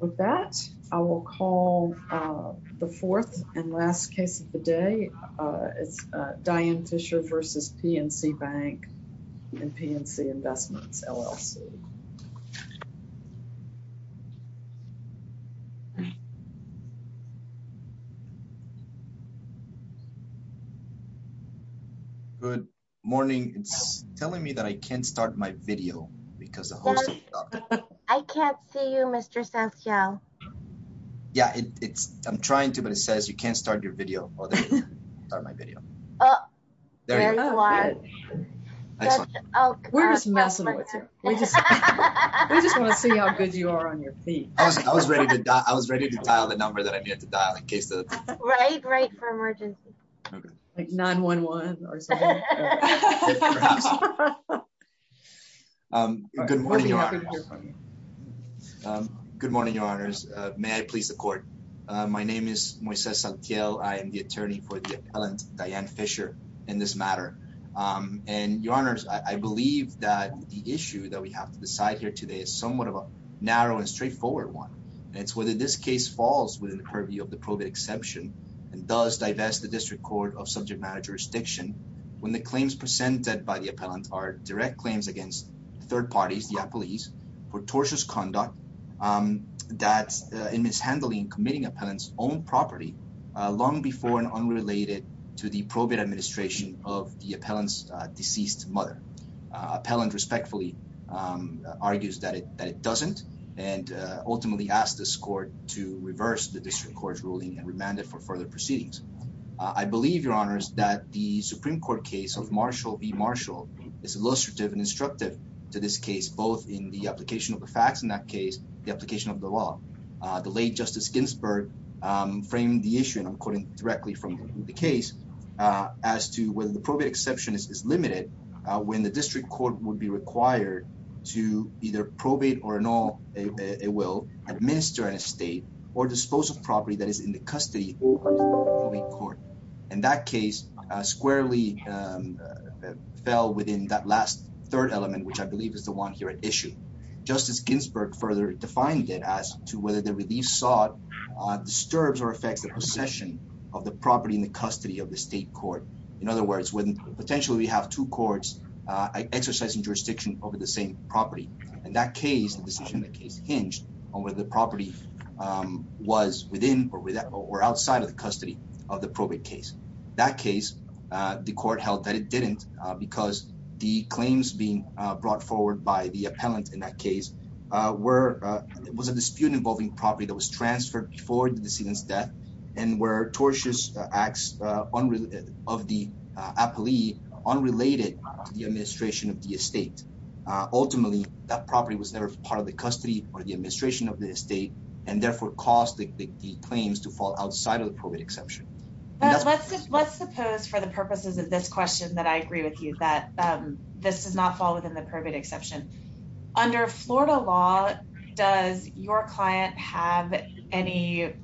With that, I will call the fourth and last case of the day. It's Diane Fisher v. PNC Bank and PNC Investments, LLC. Good morning. It's telling me that I can't start my video because the host stopped it. I can't see you, Mr. Sanchez. Yeah, I'm trying to, but it says you can't start your video. We're just messing with you. We just want to see how good you are on your feet. I was ready to dial the number that I needed to dial in case of... Right, right, for emergency. Like 911 or something. Good morning, Your Honors. Good morning, Your Honors. May I please the court? My name is Moises Saltiel. I am the attorney for the appellant, Diane Fisher, in this matter. And Your Honors, I believe that the issue that we have to decide here today is somewhat of a narrow and straightforward one. And it's whether this case falls within the purview of the probate exemption and does divest the district court of subject matter jurisdiction when the claims presented by the appellant are direct claims against third parties, the appellees, for tortuous conduct that in mishandling and committing appellant's own property long before and unrelated to the probate administration of the appellant's deceased mother. Appellant respectfully argues that it doesn't and ultimately asked this court to reverse the district court's ruling and remand it for further proceedings. I believe, Your Honors, that the Supreme Court case of Marshall v. Marshall is illustrative and instructive to this case, both in the application of the facts in that case, the application of the law. The late Justice Ginsburg framed the issue, and I'm quoting directly from the case, as to whether the probate exception is limited when the district court would be required to either probate or annul a will, administer an estate, or dispose of property that is in the custody of the probate court. In that case, squarely fell within that last third element, which I believe is the one here at issue. Justice Ginsburg further defined it as to whether the relief sought disturbs or affects the possession of the property in the custody of the state court. In other words, when potentially we have two courts exercising jurisdiction over the same In that case, the decision in the case hinged on whether the property was within or without or outside of the custody of the probate case. In that case, the court held that it didn't because the claims being brought forward by the appellant in that case was a dispute involving property that was transferred before the decedent's death and where tortious acts of the appellee unrelated to the administration of the estate. Ultimately, that property was never part of the custody or the administration of the estate and therefore caused the claims to fall outside of the probate exception. But let's suppose for the purposes of this question that I agree with you that this does not fall within the probate exception. Under Florida law, does your client have any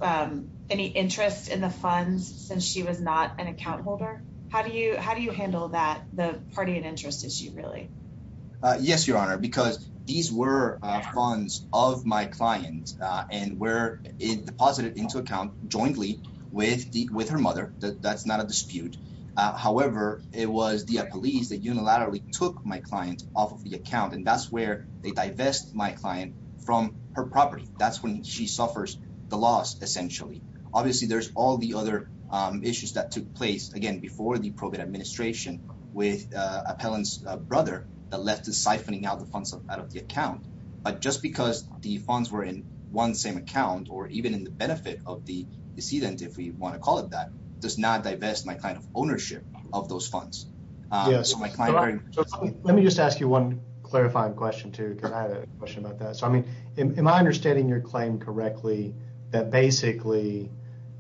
interest in the funds since she was not an account holder? How do you handle that? The party and interest issue, really? Yes, Your Honor, because these were funds of my client and were deposited into account jointly with her mother. That's not a dispute. However, it was the appellees that unilaterally took my client off of the account and that's where they divest my client from her property. That's when she suffers the loss, essentially. Obviously, there's all the other issues that took place, again, before the probate administration with Appellant's brother that left us siphoning out the funds out of the account. But just because the funds were in one same account or even in the benefit of the decedent, if we want to call it that, does not divest my client of ownership of those funds. Let me just ask you one clarifying question, too, because I had a question about that. So, I mean, am I understanding your claim correctly that basically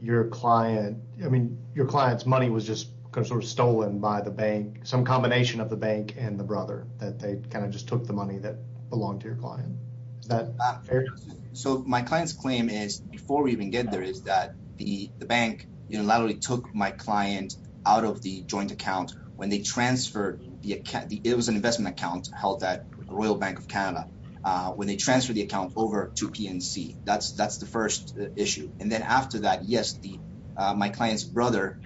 your client, I mean, your client's money was just sort of stolen by the bank, some combination of the bank and the brother, that they kind of just took the money that belonged to your client? Is that fair? So, my client's claim is, before we even get there, is that the bank unilaterally took my client out of the joint account when they transferred the account. It was an investment account held at the Royal Bank of Canada. When they transferred the account over to PNC, that's the first issue. And then after that, yes, my client's brother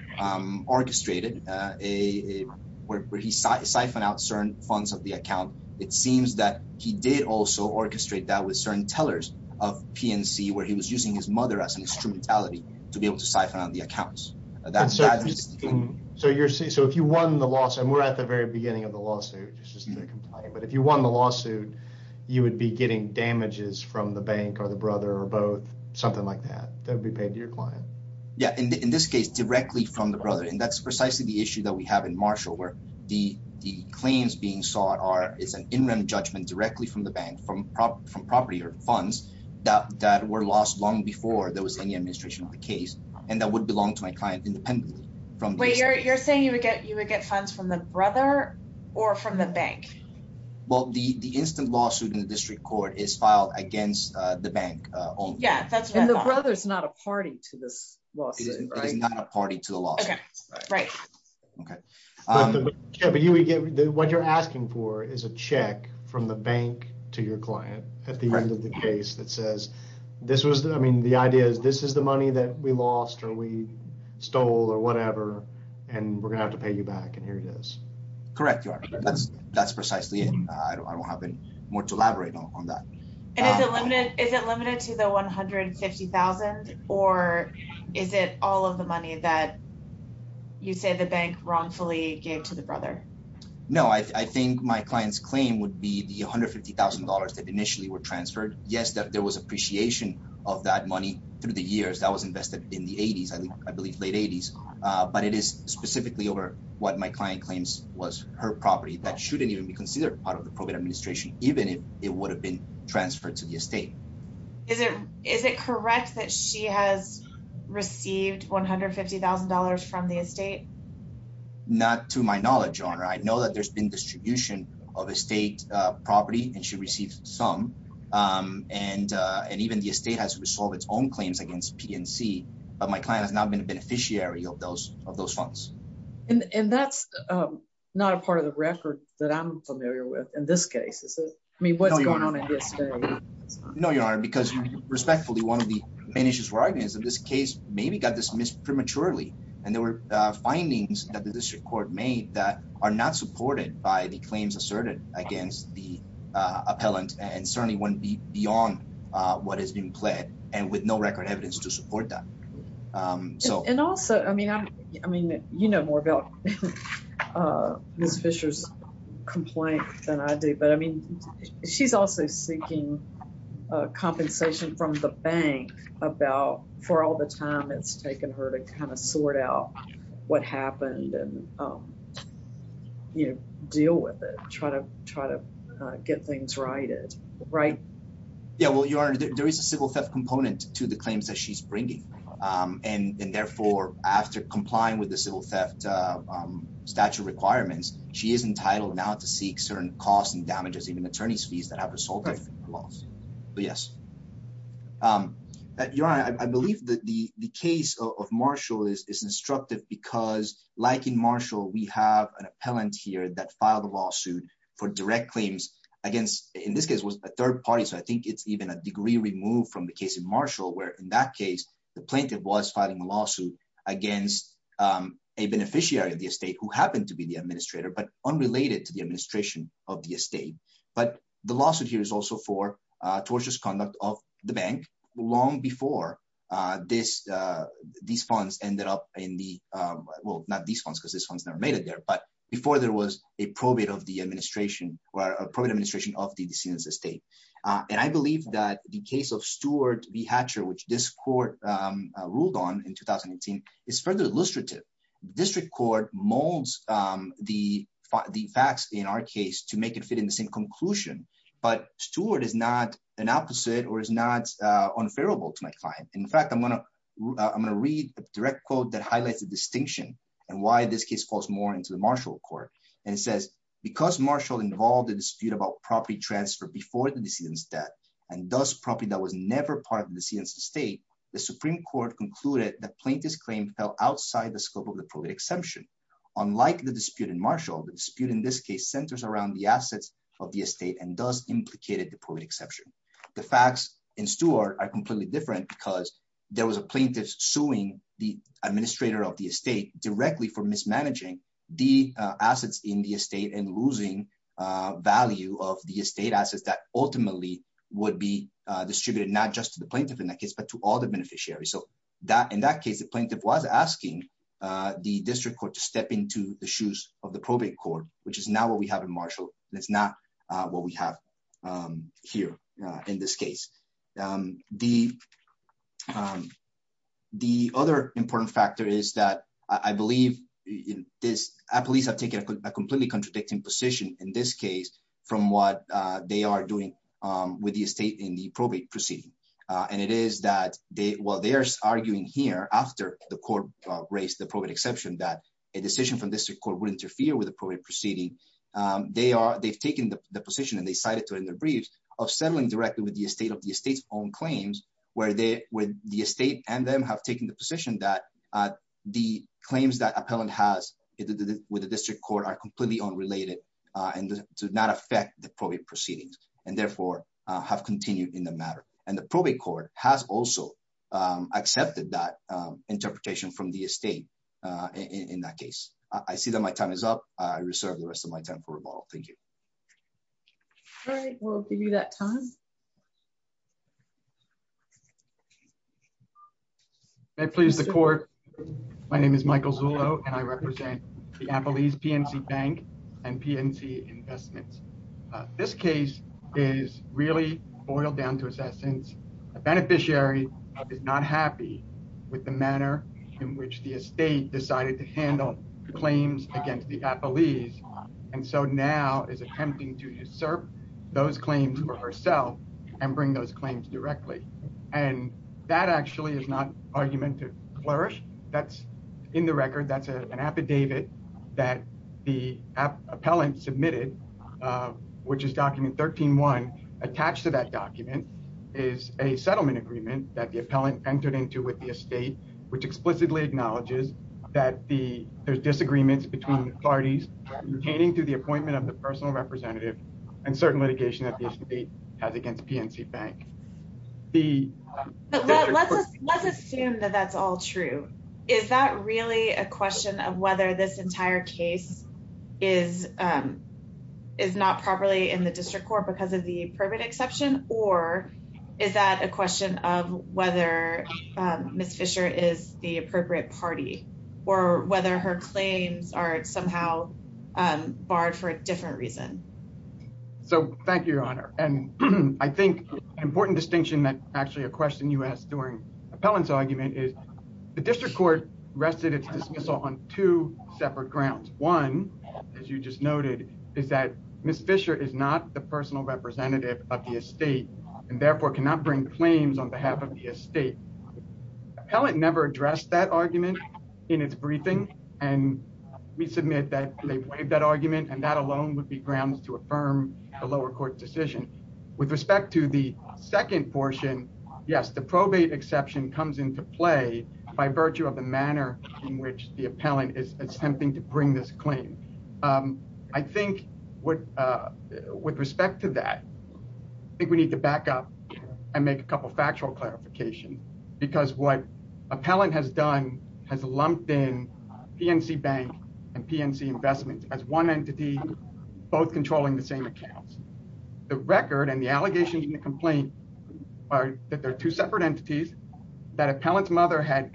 orchestrated where he siphoned out certain funds of the account. It seems that he did also orchestrate that with certain tellers of PNC, where he was using his mother as an instrumentality to be able to siphon out the accounts. So, if you won the lawsuit, and we're at the very beginning of the lawsuit, this is the complaint, but if you won the lawsuit, you would be getting damages from the bank or the brother or both, something like that, that would be paid to your client. Yeah. In this case, directly from the brother. And that's precisely the issue that we have in Marshall, where the claims being sought are, it's an interim judgment directly from the bank, from property or funds that were lost long before there was any administration of the case. And that would belong to my client independently from- You're saying you would get funds from the brother or from the bank? Well, the instant lawsuit in the district court is filed against the bank only. Yeah, that's what I thought. And the brother's not a party to this lawsuit, right? It is not a party to the lawsuit. Okay, right. What you're asking for is a check from the bank to your client at the end of the case that says, I mean, the idea is this is the money that we lost or we stole or whatever, and we're going to have to pay you back. And here it is. Correct. That's precisely it. I don't have more to elaborate on that. And is it limited to the $150,000 or is it all of the money that you say the bank wrongfully gave to the brother? No, I think my client's claim would be the $150,000 that initially were transferred. Yes, there was appreciation of that money through the years that was invested in the 80s, I believe late 80s. But it is specifically over what my client claims was her property that shouldn't even be considered part of the program administration, even if it would have been transferred to the estate. Is it correct that she has received $150,000 from the estate? Not to my knowledge, Your Honor. I know that there's been distribution of estate property and received some, and even the estate has resolved its own claims against PNC, but my client has not been a beneficiary of those funds. And that's not a part of the record that I'm familiar with in this case, is it? I mean, what's going on in the estate? No, Your Honor, because respectfully, one of the main issues for argument is that this case maybe got dismissed prematurely. And there were findings that the district court made that are not supported by the claims asserted against the appellant and certainly wouldn't be beyond what is being pled and with no record evidence to support that. And also, I mean, you know more about Ms. Fisher's complaint than I do, but I mean, she's also seeking compensation from the bank about for all the time it's taken her to kind of sort out what happened and, you know, deal with it, try to get things righted, right? Yeah, well, Your Honor, there is a civil theft component to the claims that she's bringing. And therefore, after complying with the civil theft statute requirements, she is entitled now to seek certain costs and damages, even attorney's fees that have resulted in her loss. Yes. Your Honor, I believe that the case of Marshall is instructive because like in Marshall, we have an appellant here that filed a lawsuit for direct claims against, in this case, was a third party. So I think it's even a degree removed from the case in Marshall, where in that case, the plaintiff was filing a lawsuit against a beneficiary of the estate who happened to be the administrator, but unrelated to the administration of the estate. But the bank long before this, these funds ended up in the, well, not these funds, because this one's never made it there. But before there was a probate of the administration, or a probate administration of the decedent's estate. And I believe that the case of Stewart v. Hatcher, which this court ruled on in 2018, is further illustrative. District Court molds the facts in our case to make it fit in the same conclusion. But Stewart is not an opposite or is not unfavorable to my client. In fact, I'm going to read a direct quote that highlights the distinction and why this case falls more into the Marshall Court. And it says, because Marshall involved a dispute about property transfer before the decedent's death, and thus property that was never part of the decedent's estate, the Supreme Court concluded that plaintiff's claim fell outside the scope of the probate exception. Unlike the dispute in Marshall, the dispute in this case centers around the assets of the estate and thus implicated the probate exception. The facts in Stewart are completely different, because there was a plaintiff suing the administrator of the estate directly for mismanaging the assets in the estate and losing value of the estate assets that ultimately would be distributed not just to the plaintiff in that case, but to all the beneficiaries. So in that case, the plaintiff was asking the District Court to step into the shoes of the probate court, which is not what we have in Marshall. It's not what we have here in this case. The other important factor is that I believe police have taken a completely contradicting position in this case from what they are doing with the estate in the probate proceeding. And it is that while they are arguing here after the court raised the probate exception that a decision from the District Court would interfere with the probate proceeding, they've taken the position, and they cited it in their briefs, of settling directly with the estate of the estate's own claims, where the estate and them have taken the position that the claims that appellant has with the District Court are completely unrelated and do not affect the probate proceedings and therefore have continued in the matter. And the probate court has also accepted that interpretation from the estate in that case. I see that my time is up. I reserve the rest of my time for rebuttal. Thank you. All right, we'll give you that time. May it please the court, my name is Michael Zullo and I represent the Appalese PNC Bank and PNC Investments. This case is really boiled down to its essence. A beneficiary is not happy with the manner in which the estate decided to handle the claims against the Appalese and so now is attempting to usurp those claims for herself and bring those claims directly. And that actually is not argument to flourish. That's in the record, that's an affidavit that the appellant submitted, which is document 13-1, attached to that document is a settlement agreement that the appellant entered into with the estate, which explicitly acknowledges that there's disagreements between parties pertaining to the appointment of the personal representative and certain litigation that the estate has against PNC Bank. Let's assume that that's all true. Is that really a question of whether this entire case is not properly in the district court because of the probate exception or is that a question of whether Ms. Fisher is the appropriate party or whether her claims are somehow barred for a different reason? So thank you, Your Honor, and I think an important distinction that actually a question you asked during appellant's argument is the district court rested its dismissal on two separate grounds. One, as you just noted, is that Ms. Fisher is not the personal representative of the estate and therefore cannot bring claims on behalf of the estate. Appellant never addressed that argument in its briefing and we submit that they waived that argument and that alone would be grounds to affirm a lower court decision. With respect to the second portion, yes, the probate exception comes into play by virtue of the manner in which the appellant is attempting to bring this claim. I think with respect to that, I think we need to back up and make a couple factual clarifications because what appellant has done has lumped in PNC Bank and PNC Investments as one entity both controlling the same accounts. The record and the allegations in the complaint are that they're two separate entities, that appellant's mother had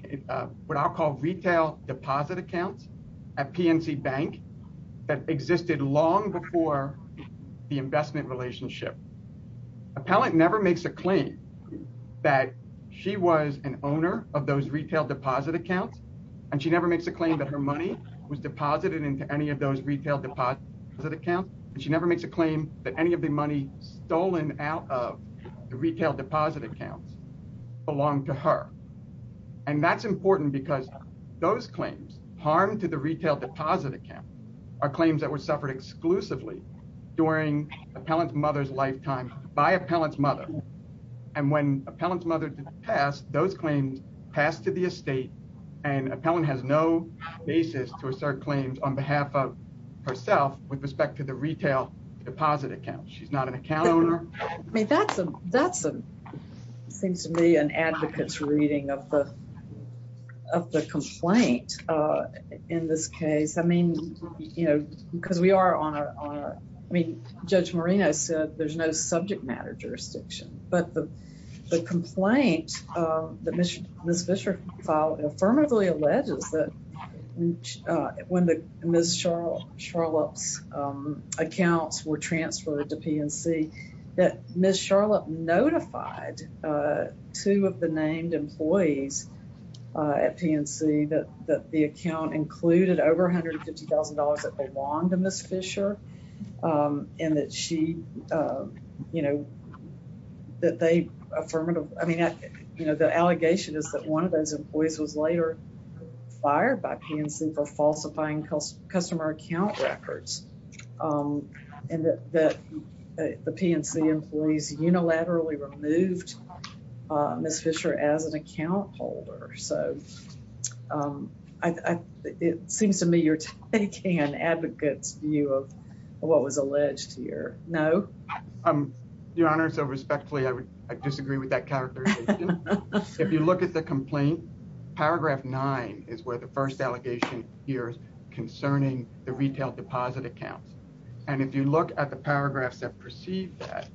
what I'll call retail deposit accounts at PNC Bank that existed long before the investment relationship. Appellant never makes a claim that she was an owner of those retail deposit accounts and she never makes a claim that her money was deposited into any of those retail deposit accounts and she never makes a claim that any of the money stolen out of the retail deposit accounts belong to her. And that's important because those claims harmed to the retail deposit account are claims that were suffered exclusively during appellant's mother's lifetime by appellant's mother. And when appellant's mother did pass, those claims passed to the estate and appellant has no basis to assert claims on behalf of herself with respect to the retail deposit account. She's not an account owner. I mean, that seems to me an advocate's reading of the complaint in this case. I mean, you know, because we are on our, I mean, Judge Marino said there's no subject matter jurisdiction, but the complaint that Ms. Fisher filed affirmatively alleges that when the Ms. Charlotte's accounts were transferred to PNC that Ms. Charlotte notified two of the named employees at PNC that the account included over $150,000 that belonged to Ms. Fisher and that she, you know, that they affirmatively, I mean, you know, the allegation is that one of those employees was later fired by PNC for falsifying customer account records and that the PNC employees unilaterally removed Ms. Fisher as an account holder. So it seems to me you're taking an advocate's view of what was alleged here. No? Your Honor, so respectfully, I disagree with that characterization. If you look at the complaint, paragraph nine is where the first allegation appears concerning the retail deposit accounts. And if you look at the paragraphs that precede that,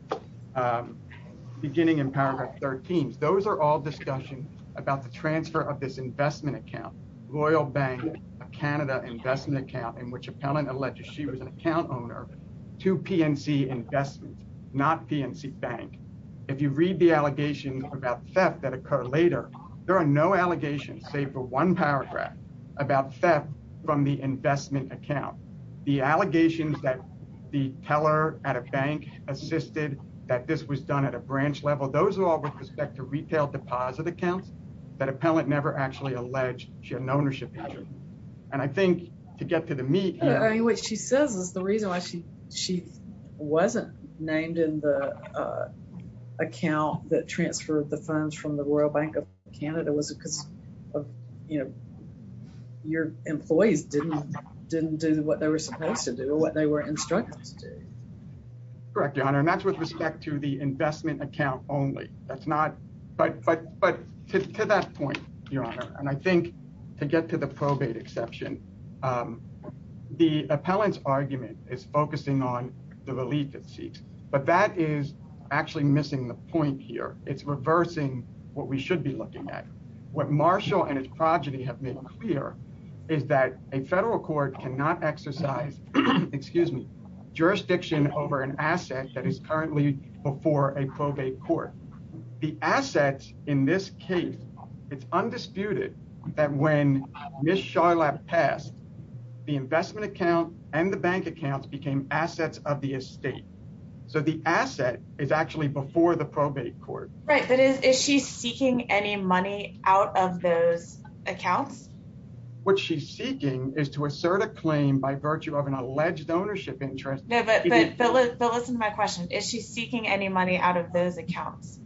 beginning in paragraph 13, those are all discussion about the transfer of this investment account, Royal Bank of Canada investment account in which appellant alleged she was an account owner to PNC investments, not PNC Bank. If you say for one paragraph about theft from the investment account, the allegations that the teller at a bank assisted that this was done at a branch level, those are all with respect to retail deposit accounts that appellant never actually alleged she had an ownership interest. And I think to get to the meat here. I mean, what she says is the reason why she wasn't named in the account that transferred the funds from the Royal Bank of Canada was because, you know, your employees didn't do what they were supposed to do or what they were instructed to do. Correct, Your Honor. And that's with respect to the investment account only. That's not. But to that point, Your Honor, and I think to get to the probate exception, the appellant's argument is focusing on the relief it seeks. But that is actually missing the point here. It's reversing what we should be looking at. What Marshall and his progeny have made clear is that a federal court cannot exercise, excuse me, jurisdiction over an asset that is currently before a probate court. The assets in this case, it's undisputed that when Ms. Charlotte passed, the investment account and the bank accounts became assets of the estate. So the asset is actually before the probate court. Right. But is she seeking any money out of those accounts? What she's seeking is to assert a claim by virtue of an alleged ownership interest. No, but listen to my question. Is she seeking any money out of those accounts?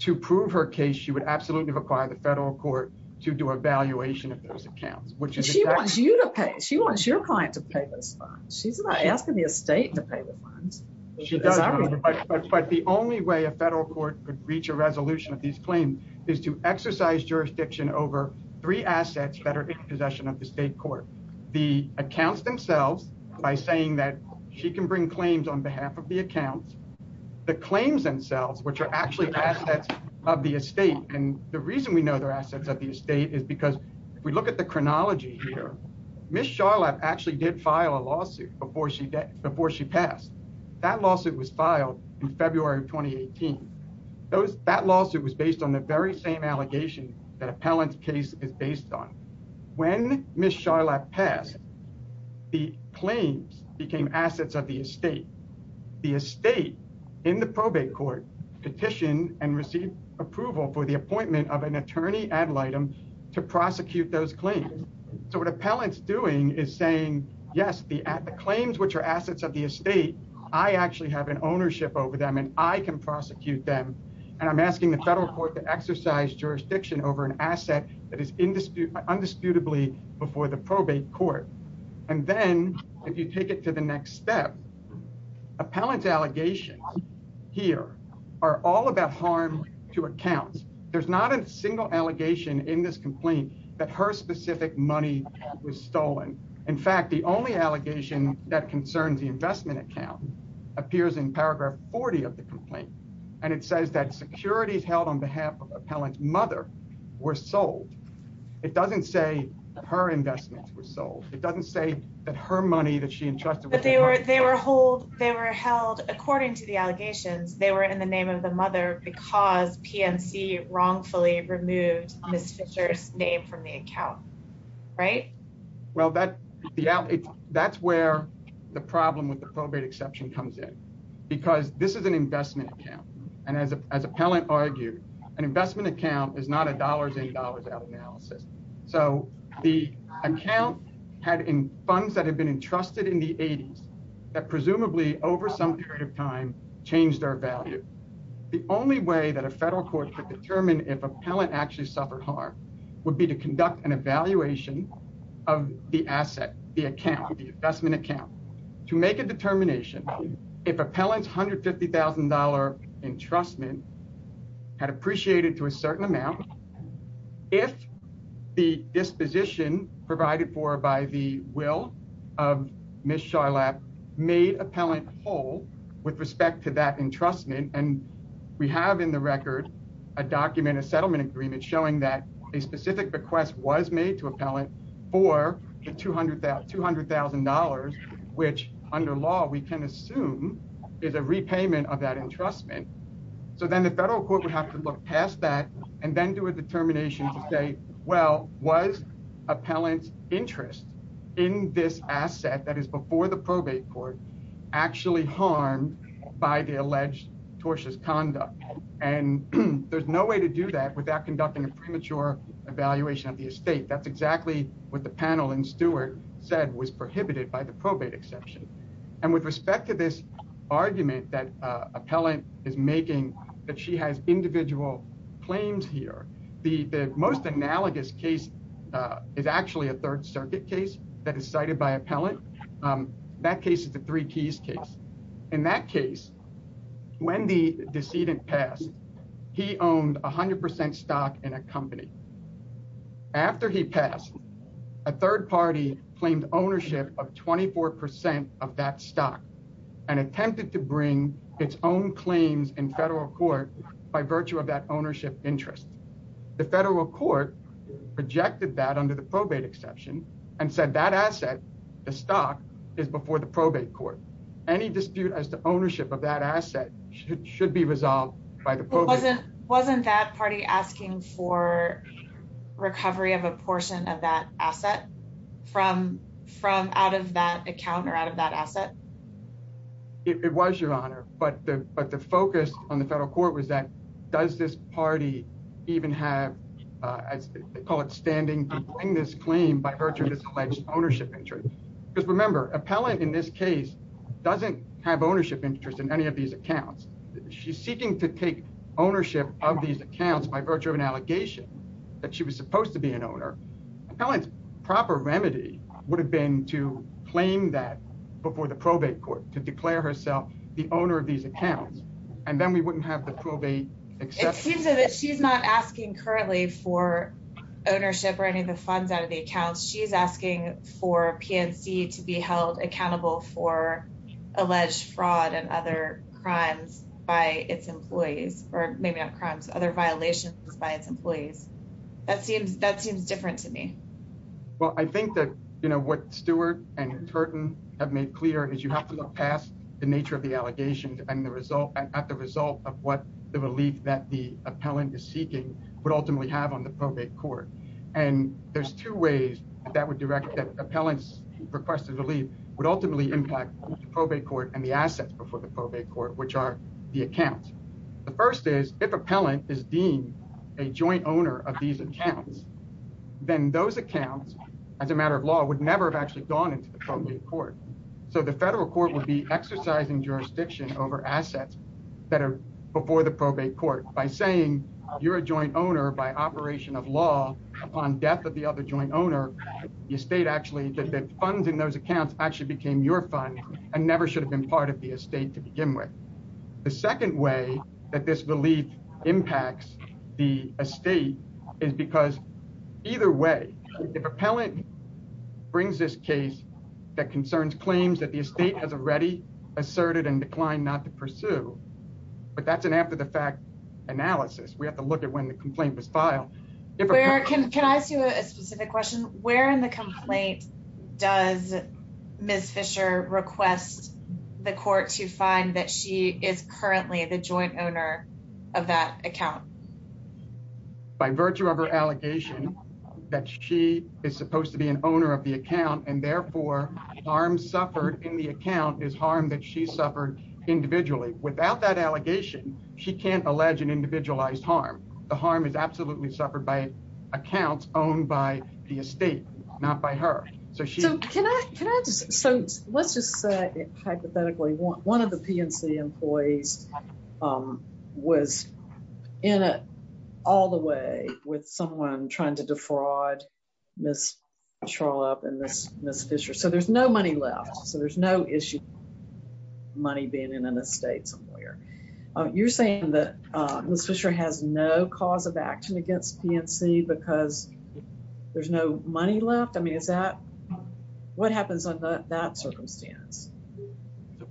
To prove her case, she would absolutely require the federal court to do a valuation of those accounts, which is- She wants you to pay. She wants your client to pay those funds. She's not asking the estate to pay the funds. She does, but the only way a federal court could reach a resolution of these claims is to exercise jurisdiction over three assets that are in possession of the state court. The accounts themselves, by saying that she can bring claims on behalf of the accounts, the claims themselves, which are actually assets of the estate. And the reason we know they're assets of the estate is because if we look at the chronology here, Ms. Charlotte actually did file a lawsuit before she passed. That lawsuit was filed in February of 2018. That lawsuit was based on the very same allegation that Appellant's case is based on. When Ms. Charlotte passed, the claims became assets of the estate. The estate in the probate court petitioned and received approval for the appointment of an attorney ad litem to prosecute those claims. So what Appellant's doing is saying, yes, the claims, which are assets of the estate, I actually have an ownership over them and I can prosecute them. And I'm asking the federal court to exercise jurisdiction over an asset that is indisputably before the probate court. And then if you take it to the next step, Appellant's allegations here are all about harm to accounts. There's not a single allegation in this complaint that her specific money was stolen. In fact, the only allegation that concerns the investment account appears in paragraph 40 of the complaint. And it says that securities held on behalf of Appellant's mother were sold. It doesn't say her investments were sold. It doesn't say that her money that she entrusted. But they were held, according to the allegations, they were in the name of the mother because PNC wrongfully removed Ms. Fisher's name from the account, right? Well, that's where the problem with the probate exception comes in. Because this is an investment account. And as Appellant argued, an investment account is not a dollars in, dollars out analysis. So the account had funds that had been entrusted in the 80s that presumably over some period of time changed their value. The only way that a federal court could determine if Appellant actually suffered harm would be to conduct an evaluation of the asset, the account, the investment account to make a determination if Appellant's $150,000 entrustment had appreciated to a certain amount. If the disposition provided for by the will of Ms. Charlotte made Appellant whole with respect to that entrustment, and we have in the record a document, a settlement agreement showing that a specific request was made to Appellant for the $200,000, which under law we can assume is a repayment of that entrustment. So then the federal court would have to look past that and then do a determination to say, well, was Appellant's interest in this asset that is before the probate court actually harmed by the alleged tortious conduct? And there's no way to do that without conducting a premature evaluation of the estate. That's exactly what the panel and Stewart said was prohibited by the probate exception. And with respect to this argument that Appellant is making, that she has individual claims here, the most analogous case is actually a Third Circuit case that is cited by Appellant. That case is the Three Keys case. In that case, when the decedent passed, he owned 100% stock in a company. After he passed, a third party claimed ownership of 24% of that stock and attempted to bring its own claims in federal court by virtue of that ownership interest. The federal court rejected that under the probate exception and said that asset, the stock, is before the probate court. Any dispute as to ownership of that asset should be resolved by the probate. Wasn't that party asking for recovery of a portion of that asset from out of that account or out of that asset? It was, Your Honor, but the focus on the federal court was that, does this party even have, as they call it, standing in this claim by virtue of this alleged ownership interest? Because remember, Appellant in this case doesn't have ownership interest in any of these accounts. She's seeking to take ownership of these accounts by virtue of an allegation that she was supposed to be an owner. Appellant's proper remedy would have been to claim that before the probate court, to declare herself the owner of these accounts, and then we wouldn't have the probate exception. It seems that she's not asking currently for ownership or any of the funds out of the accounts. She's asking for PNC to be held accountable for alleged fraud and other crimes by its employees, or maybe not crimes, other violations by its employees. That seems different to me. Well, I think that what Stewart and Turton have made clear is you have to look past the nature of the allegations at the result of what the relief that the Appellant is seeking would ultimately have on the probate court. And there's two ways that Appellant's requested relief would ultimately impact the probate court and the assets before the probate court, which are the accounts. The first is if Appellant is deemed a joint owner of these accounts, then those accounts, as a matter of law, would never have actually gone into the probate court. So the federal court would be exercising jurisdiction over assets that are before the probate court by saying you're a joint owner by operation of law upon death of the other joint owner, the estate actually, the funds in those accounts actually became your funds and never should have been part of the estate to begin with. The second way that this relief impacts the estate is because either way, if Appellant brings this case that concerns claims that the estate has already asserted and declined not to pursue, but that's an after the fact analysis, we have to look at when the complaint was filed. Can I ask you a specific question? Where in the complaint does Ms. Fisher request the court to find that she is currently the joint owner of that account? By virtue of her allegation that she is supposed to be an owner of the account, and therefore harm suffered in the account is harm that she suffered individually. Without that allegation, she can't allege an individualized harm. The harm is absolutely suffered by accounts owned by the estate, not by her. So let's just say hypothetically one of the PNC employees was in it all the way with someone trying to defraud Ms. Charlotte and Ms. Fisher. So there's no money left. So there's no issue money being in an estate somewhere. You're saying that Ms. Fisher has no cause of action against PNC because there's no money left? I mean, is that what happens under that circumstance?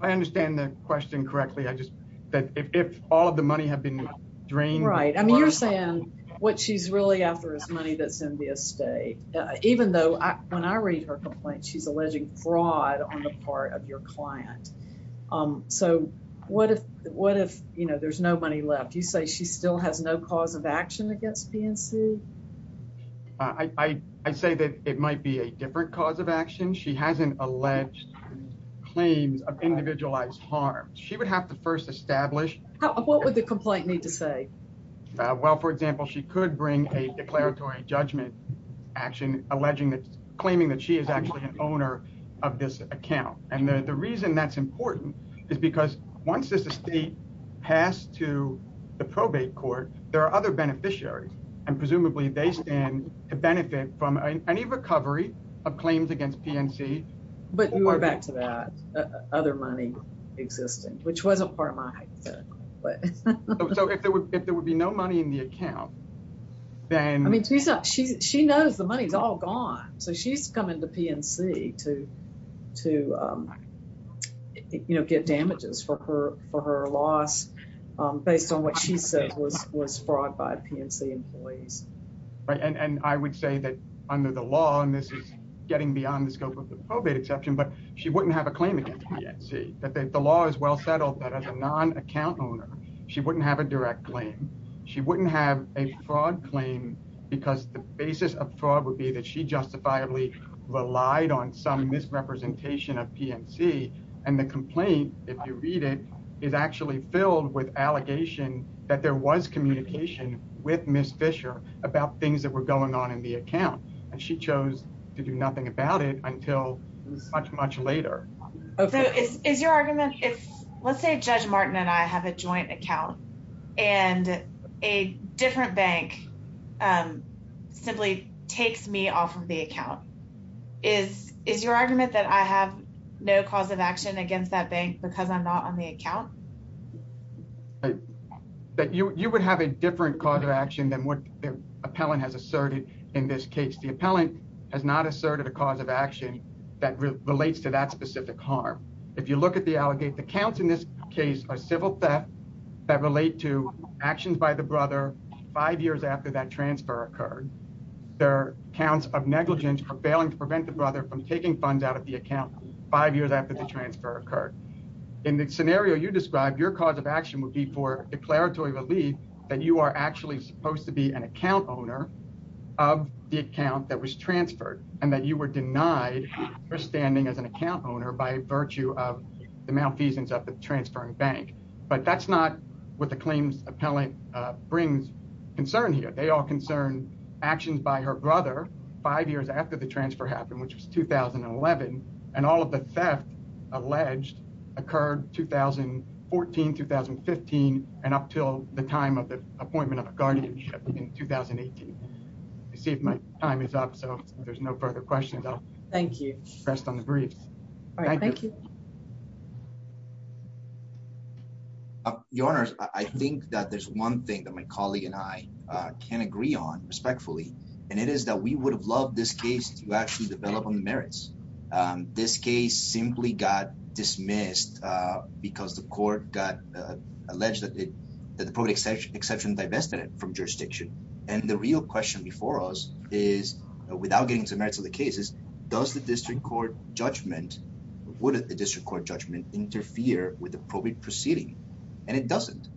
I understand the question correctly. I just that if all of the money had been drained. Right. I mean, you're saying what she's really after is money that's in the estate, even though when I read her complaint, she's alleging fraud on the part of your client. So what if there's no money left? You say she still has no cause of action against PNC? I say that it might be a different cause of action. She hasn't alleged claims of individualized harm. She would have to first establish. What would the complaint need to say? Well, for example, she could bring a declaratory judgment action, alleging that claiming that she is actually an owner of this account. And the reason that's important is because once this estate passed to the probate court, there are other beneficiaries. And presumably they stand to benefit from any recovery of claims against PNC. But you are back to that other money existing, which was a part of my hypothetical. So if there would be no money in the account, then. I mean, she knows the money is all gone. So she's coming to PNC to, you know, get damages for her loss based on what she said was fraud by PNC employees. Right. And I would say that under the law, and this is getting beyond the scope of the probate exception, but she wouldn't have a claim against PNC. That the law is well settled that as a non-account owner, she wouldn't have a direct claim. She wouldn't have a fraud claim because the basis of fraud would be that she justifiably relied on some misrepresentation of PNC. And the complaint, if you read it, is actually filled with allegation that there was communication with Ms. Fisher about things that were going on in the account. And she chose to do nothing about it until much, much later. So is your argument, if let's say Judge Martin and I have a joint account and a different bank simply takes me off of the account, is your argument that I have no cause of action against that bank because I'm not on the account? That you would have a different cause of action than what the appellant has asserted in this case. The appellant has not asserted a cause of action that relates to that specific harm. If you look at the allegate, the counts in this case are civil theft that relate to actions by the brother five years after that transfer occurred. There are counts of negligence for failing to prevent the brother from taking funds out of the account five years after the transfer occurred. In the scenario you described, your cause of action would be for declaratory relief that you are actually supposed to be an account owner of the account that was transferred and that you were denied for standing as an account owner by virtue of the malfeasance of the transferring bank. But that's not what the claims appellant brings concern here. They all concern actions by her brother five years after the transfer happened, which was 2011, and all of the theft alleged occurred 2014, 2015, and up till the time of the appointment of a guardianship in 2018. I see if my time is up, so if there's no further questions, I'll rest on the briefs. All right, thank you. Your Honor, I think that there's one thing that my colleague and I can agree on respectfully, and it is that we would have loved this case to actually develop on the merits. This case simply got dismissed because the court got alleged that the probate exception divested it from jurisdiction. And the real question before us is, without getting into the merits of the cases, does the district court judgment, would the district court judgment interfere with the probate proceeding? And it doesn't.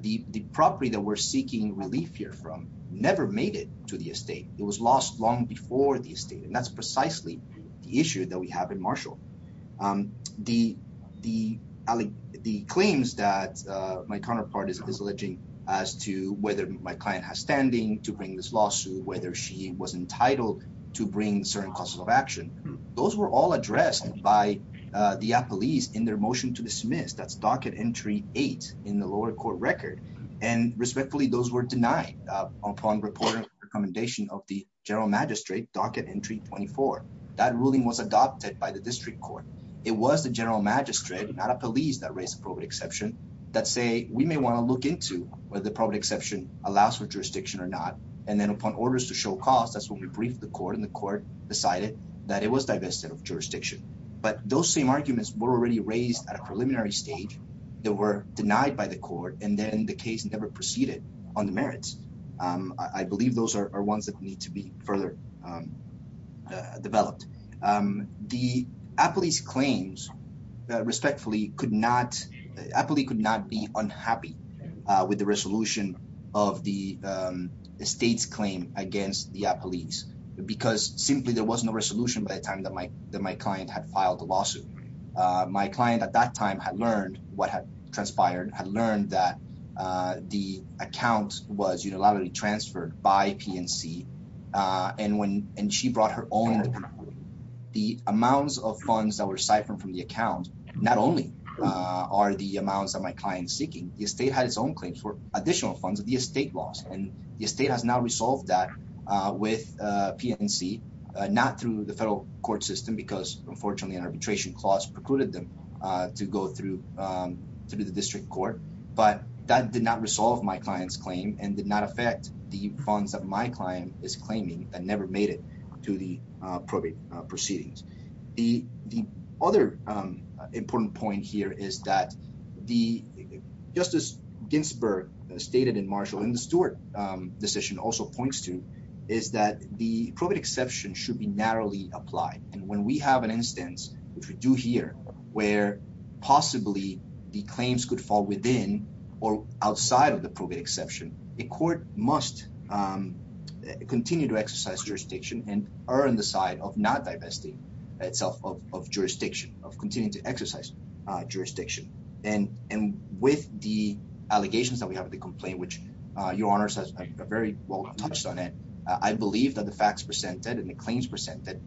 The property that we're seeking relief here from never made it to the estate. It was lost long before the estate, and that's precisely the issue that we have in Marshall. The claims that my counterpart is alleging as to whether my client has standing to bring this lawsuit, whether she was entitled to bring certain causes of action, those were all addressed by the police in their motion to dismiss. That's Docket Entry 8 in the lower court record. And respectfully, those were denied upon report and recommendation of the general magistrate, Docket Entry 24. That ruling was adopted by the district court. It was the general magistrate, not a police, that raised the probate exception that say, we may want to look into whether the probate exception allows for jurisdiction or not. And then upon orders to show cause, that's when we briefed the court, decided that it was divested of jurisdiction. But those same arguments were already raised at a preliminary stage. They were denied by the court. And then the case never proceeded on the merits. I believe those are ones that need to be further developed. The appellee's claims, respectfully, could not, appellee could not be unhappy with the resolution of the estate's claim against the appellee's simply there was no resolution by the time that my client had filed the lawsuit. My client at that time had learned what had transpired, had learned that the account was unilaterally transferred by PNC. And she brought her own. The amounts of funds that were siphoned from the account, not only are the amounts that my client's seeking, the estate had its own claims for additional funds that the estate lost. And the estate has now resolved that with PNC, not through the federal court system, because unfortunately an arbitration clause precluded them to go through the district court. But that did not resolve my client's claim and did not affect the funds that my client is claiming that never made it to the probate proceedings. The other important point here is that the, just as Ginsburg stated in Marshall, and the Stewart decision also points to, is that the probate exception should be narrowly applied. And when we have an instance, which we do here, where possibly the claims could fall within or outside of the probate exception, the court must continue to exercise jurisdiction and earn the side of not divesting itself of jurisdiction, of continuing to exercise jurisdiction. And with the allegations that we have with the complaint, which your honors has very well touched on it, I believe that the facts presented and the claims presented,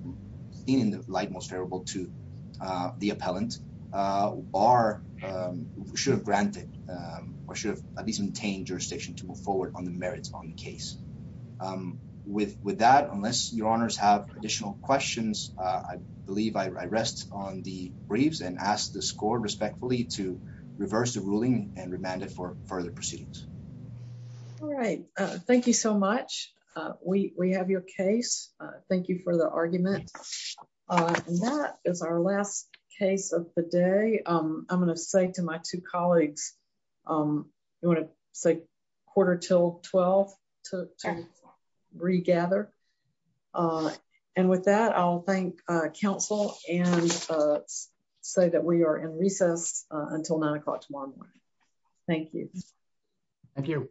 seen in the light most favorable to the appellant, are, should have granted, or should have at least maintained jurisdiction to move forward on the merits on the case. With that, unless your honors have additional questions, I believe I rest on the briefs and ask the score respectfully to reverse the ruling and remand it for further proceedings. All right. Thank you so much. We have your case. Thank you for the argument. And that is our last case of the day. I'm going to say to my two colleagues, you want to say quarter till 12 to regather. And with that, I'll thank counsel and say that we are in recess. Until nine o'clock tomorrow morning. Thank you. Thank you.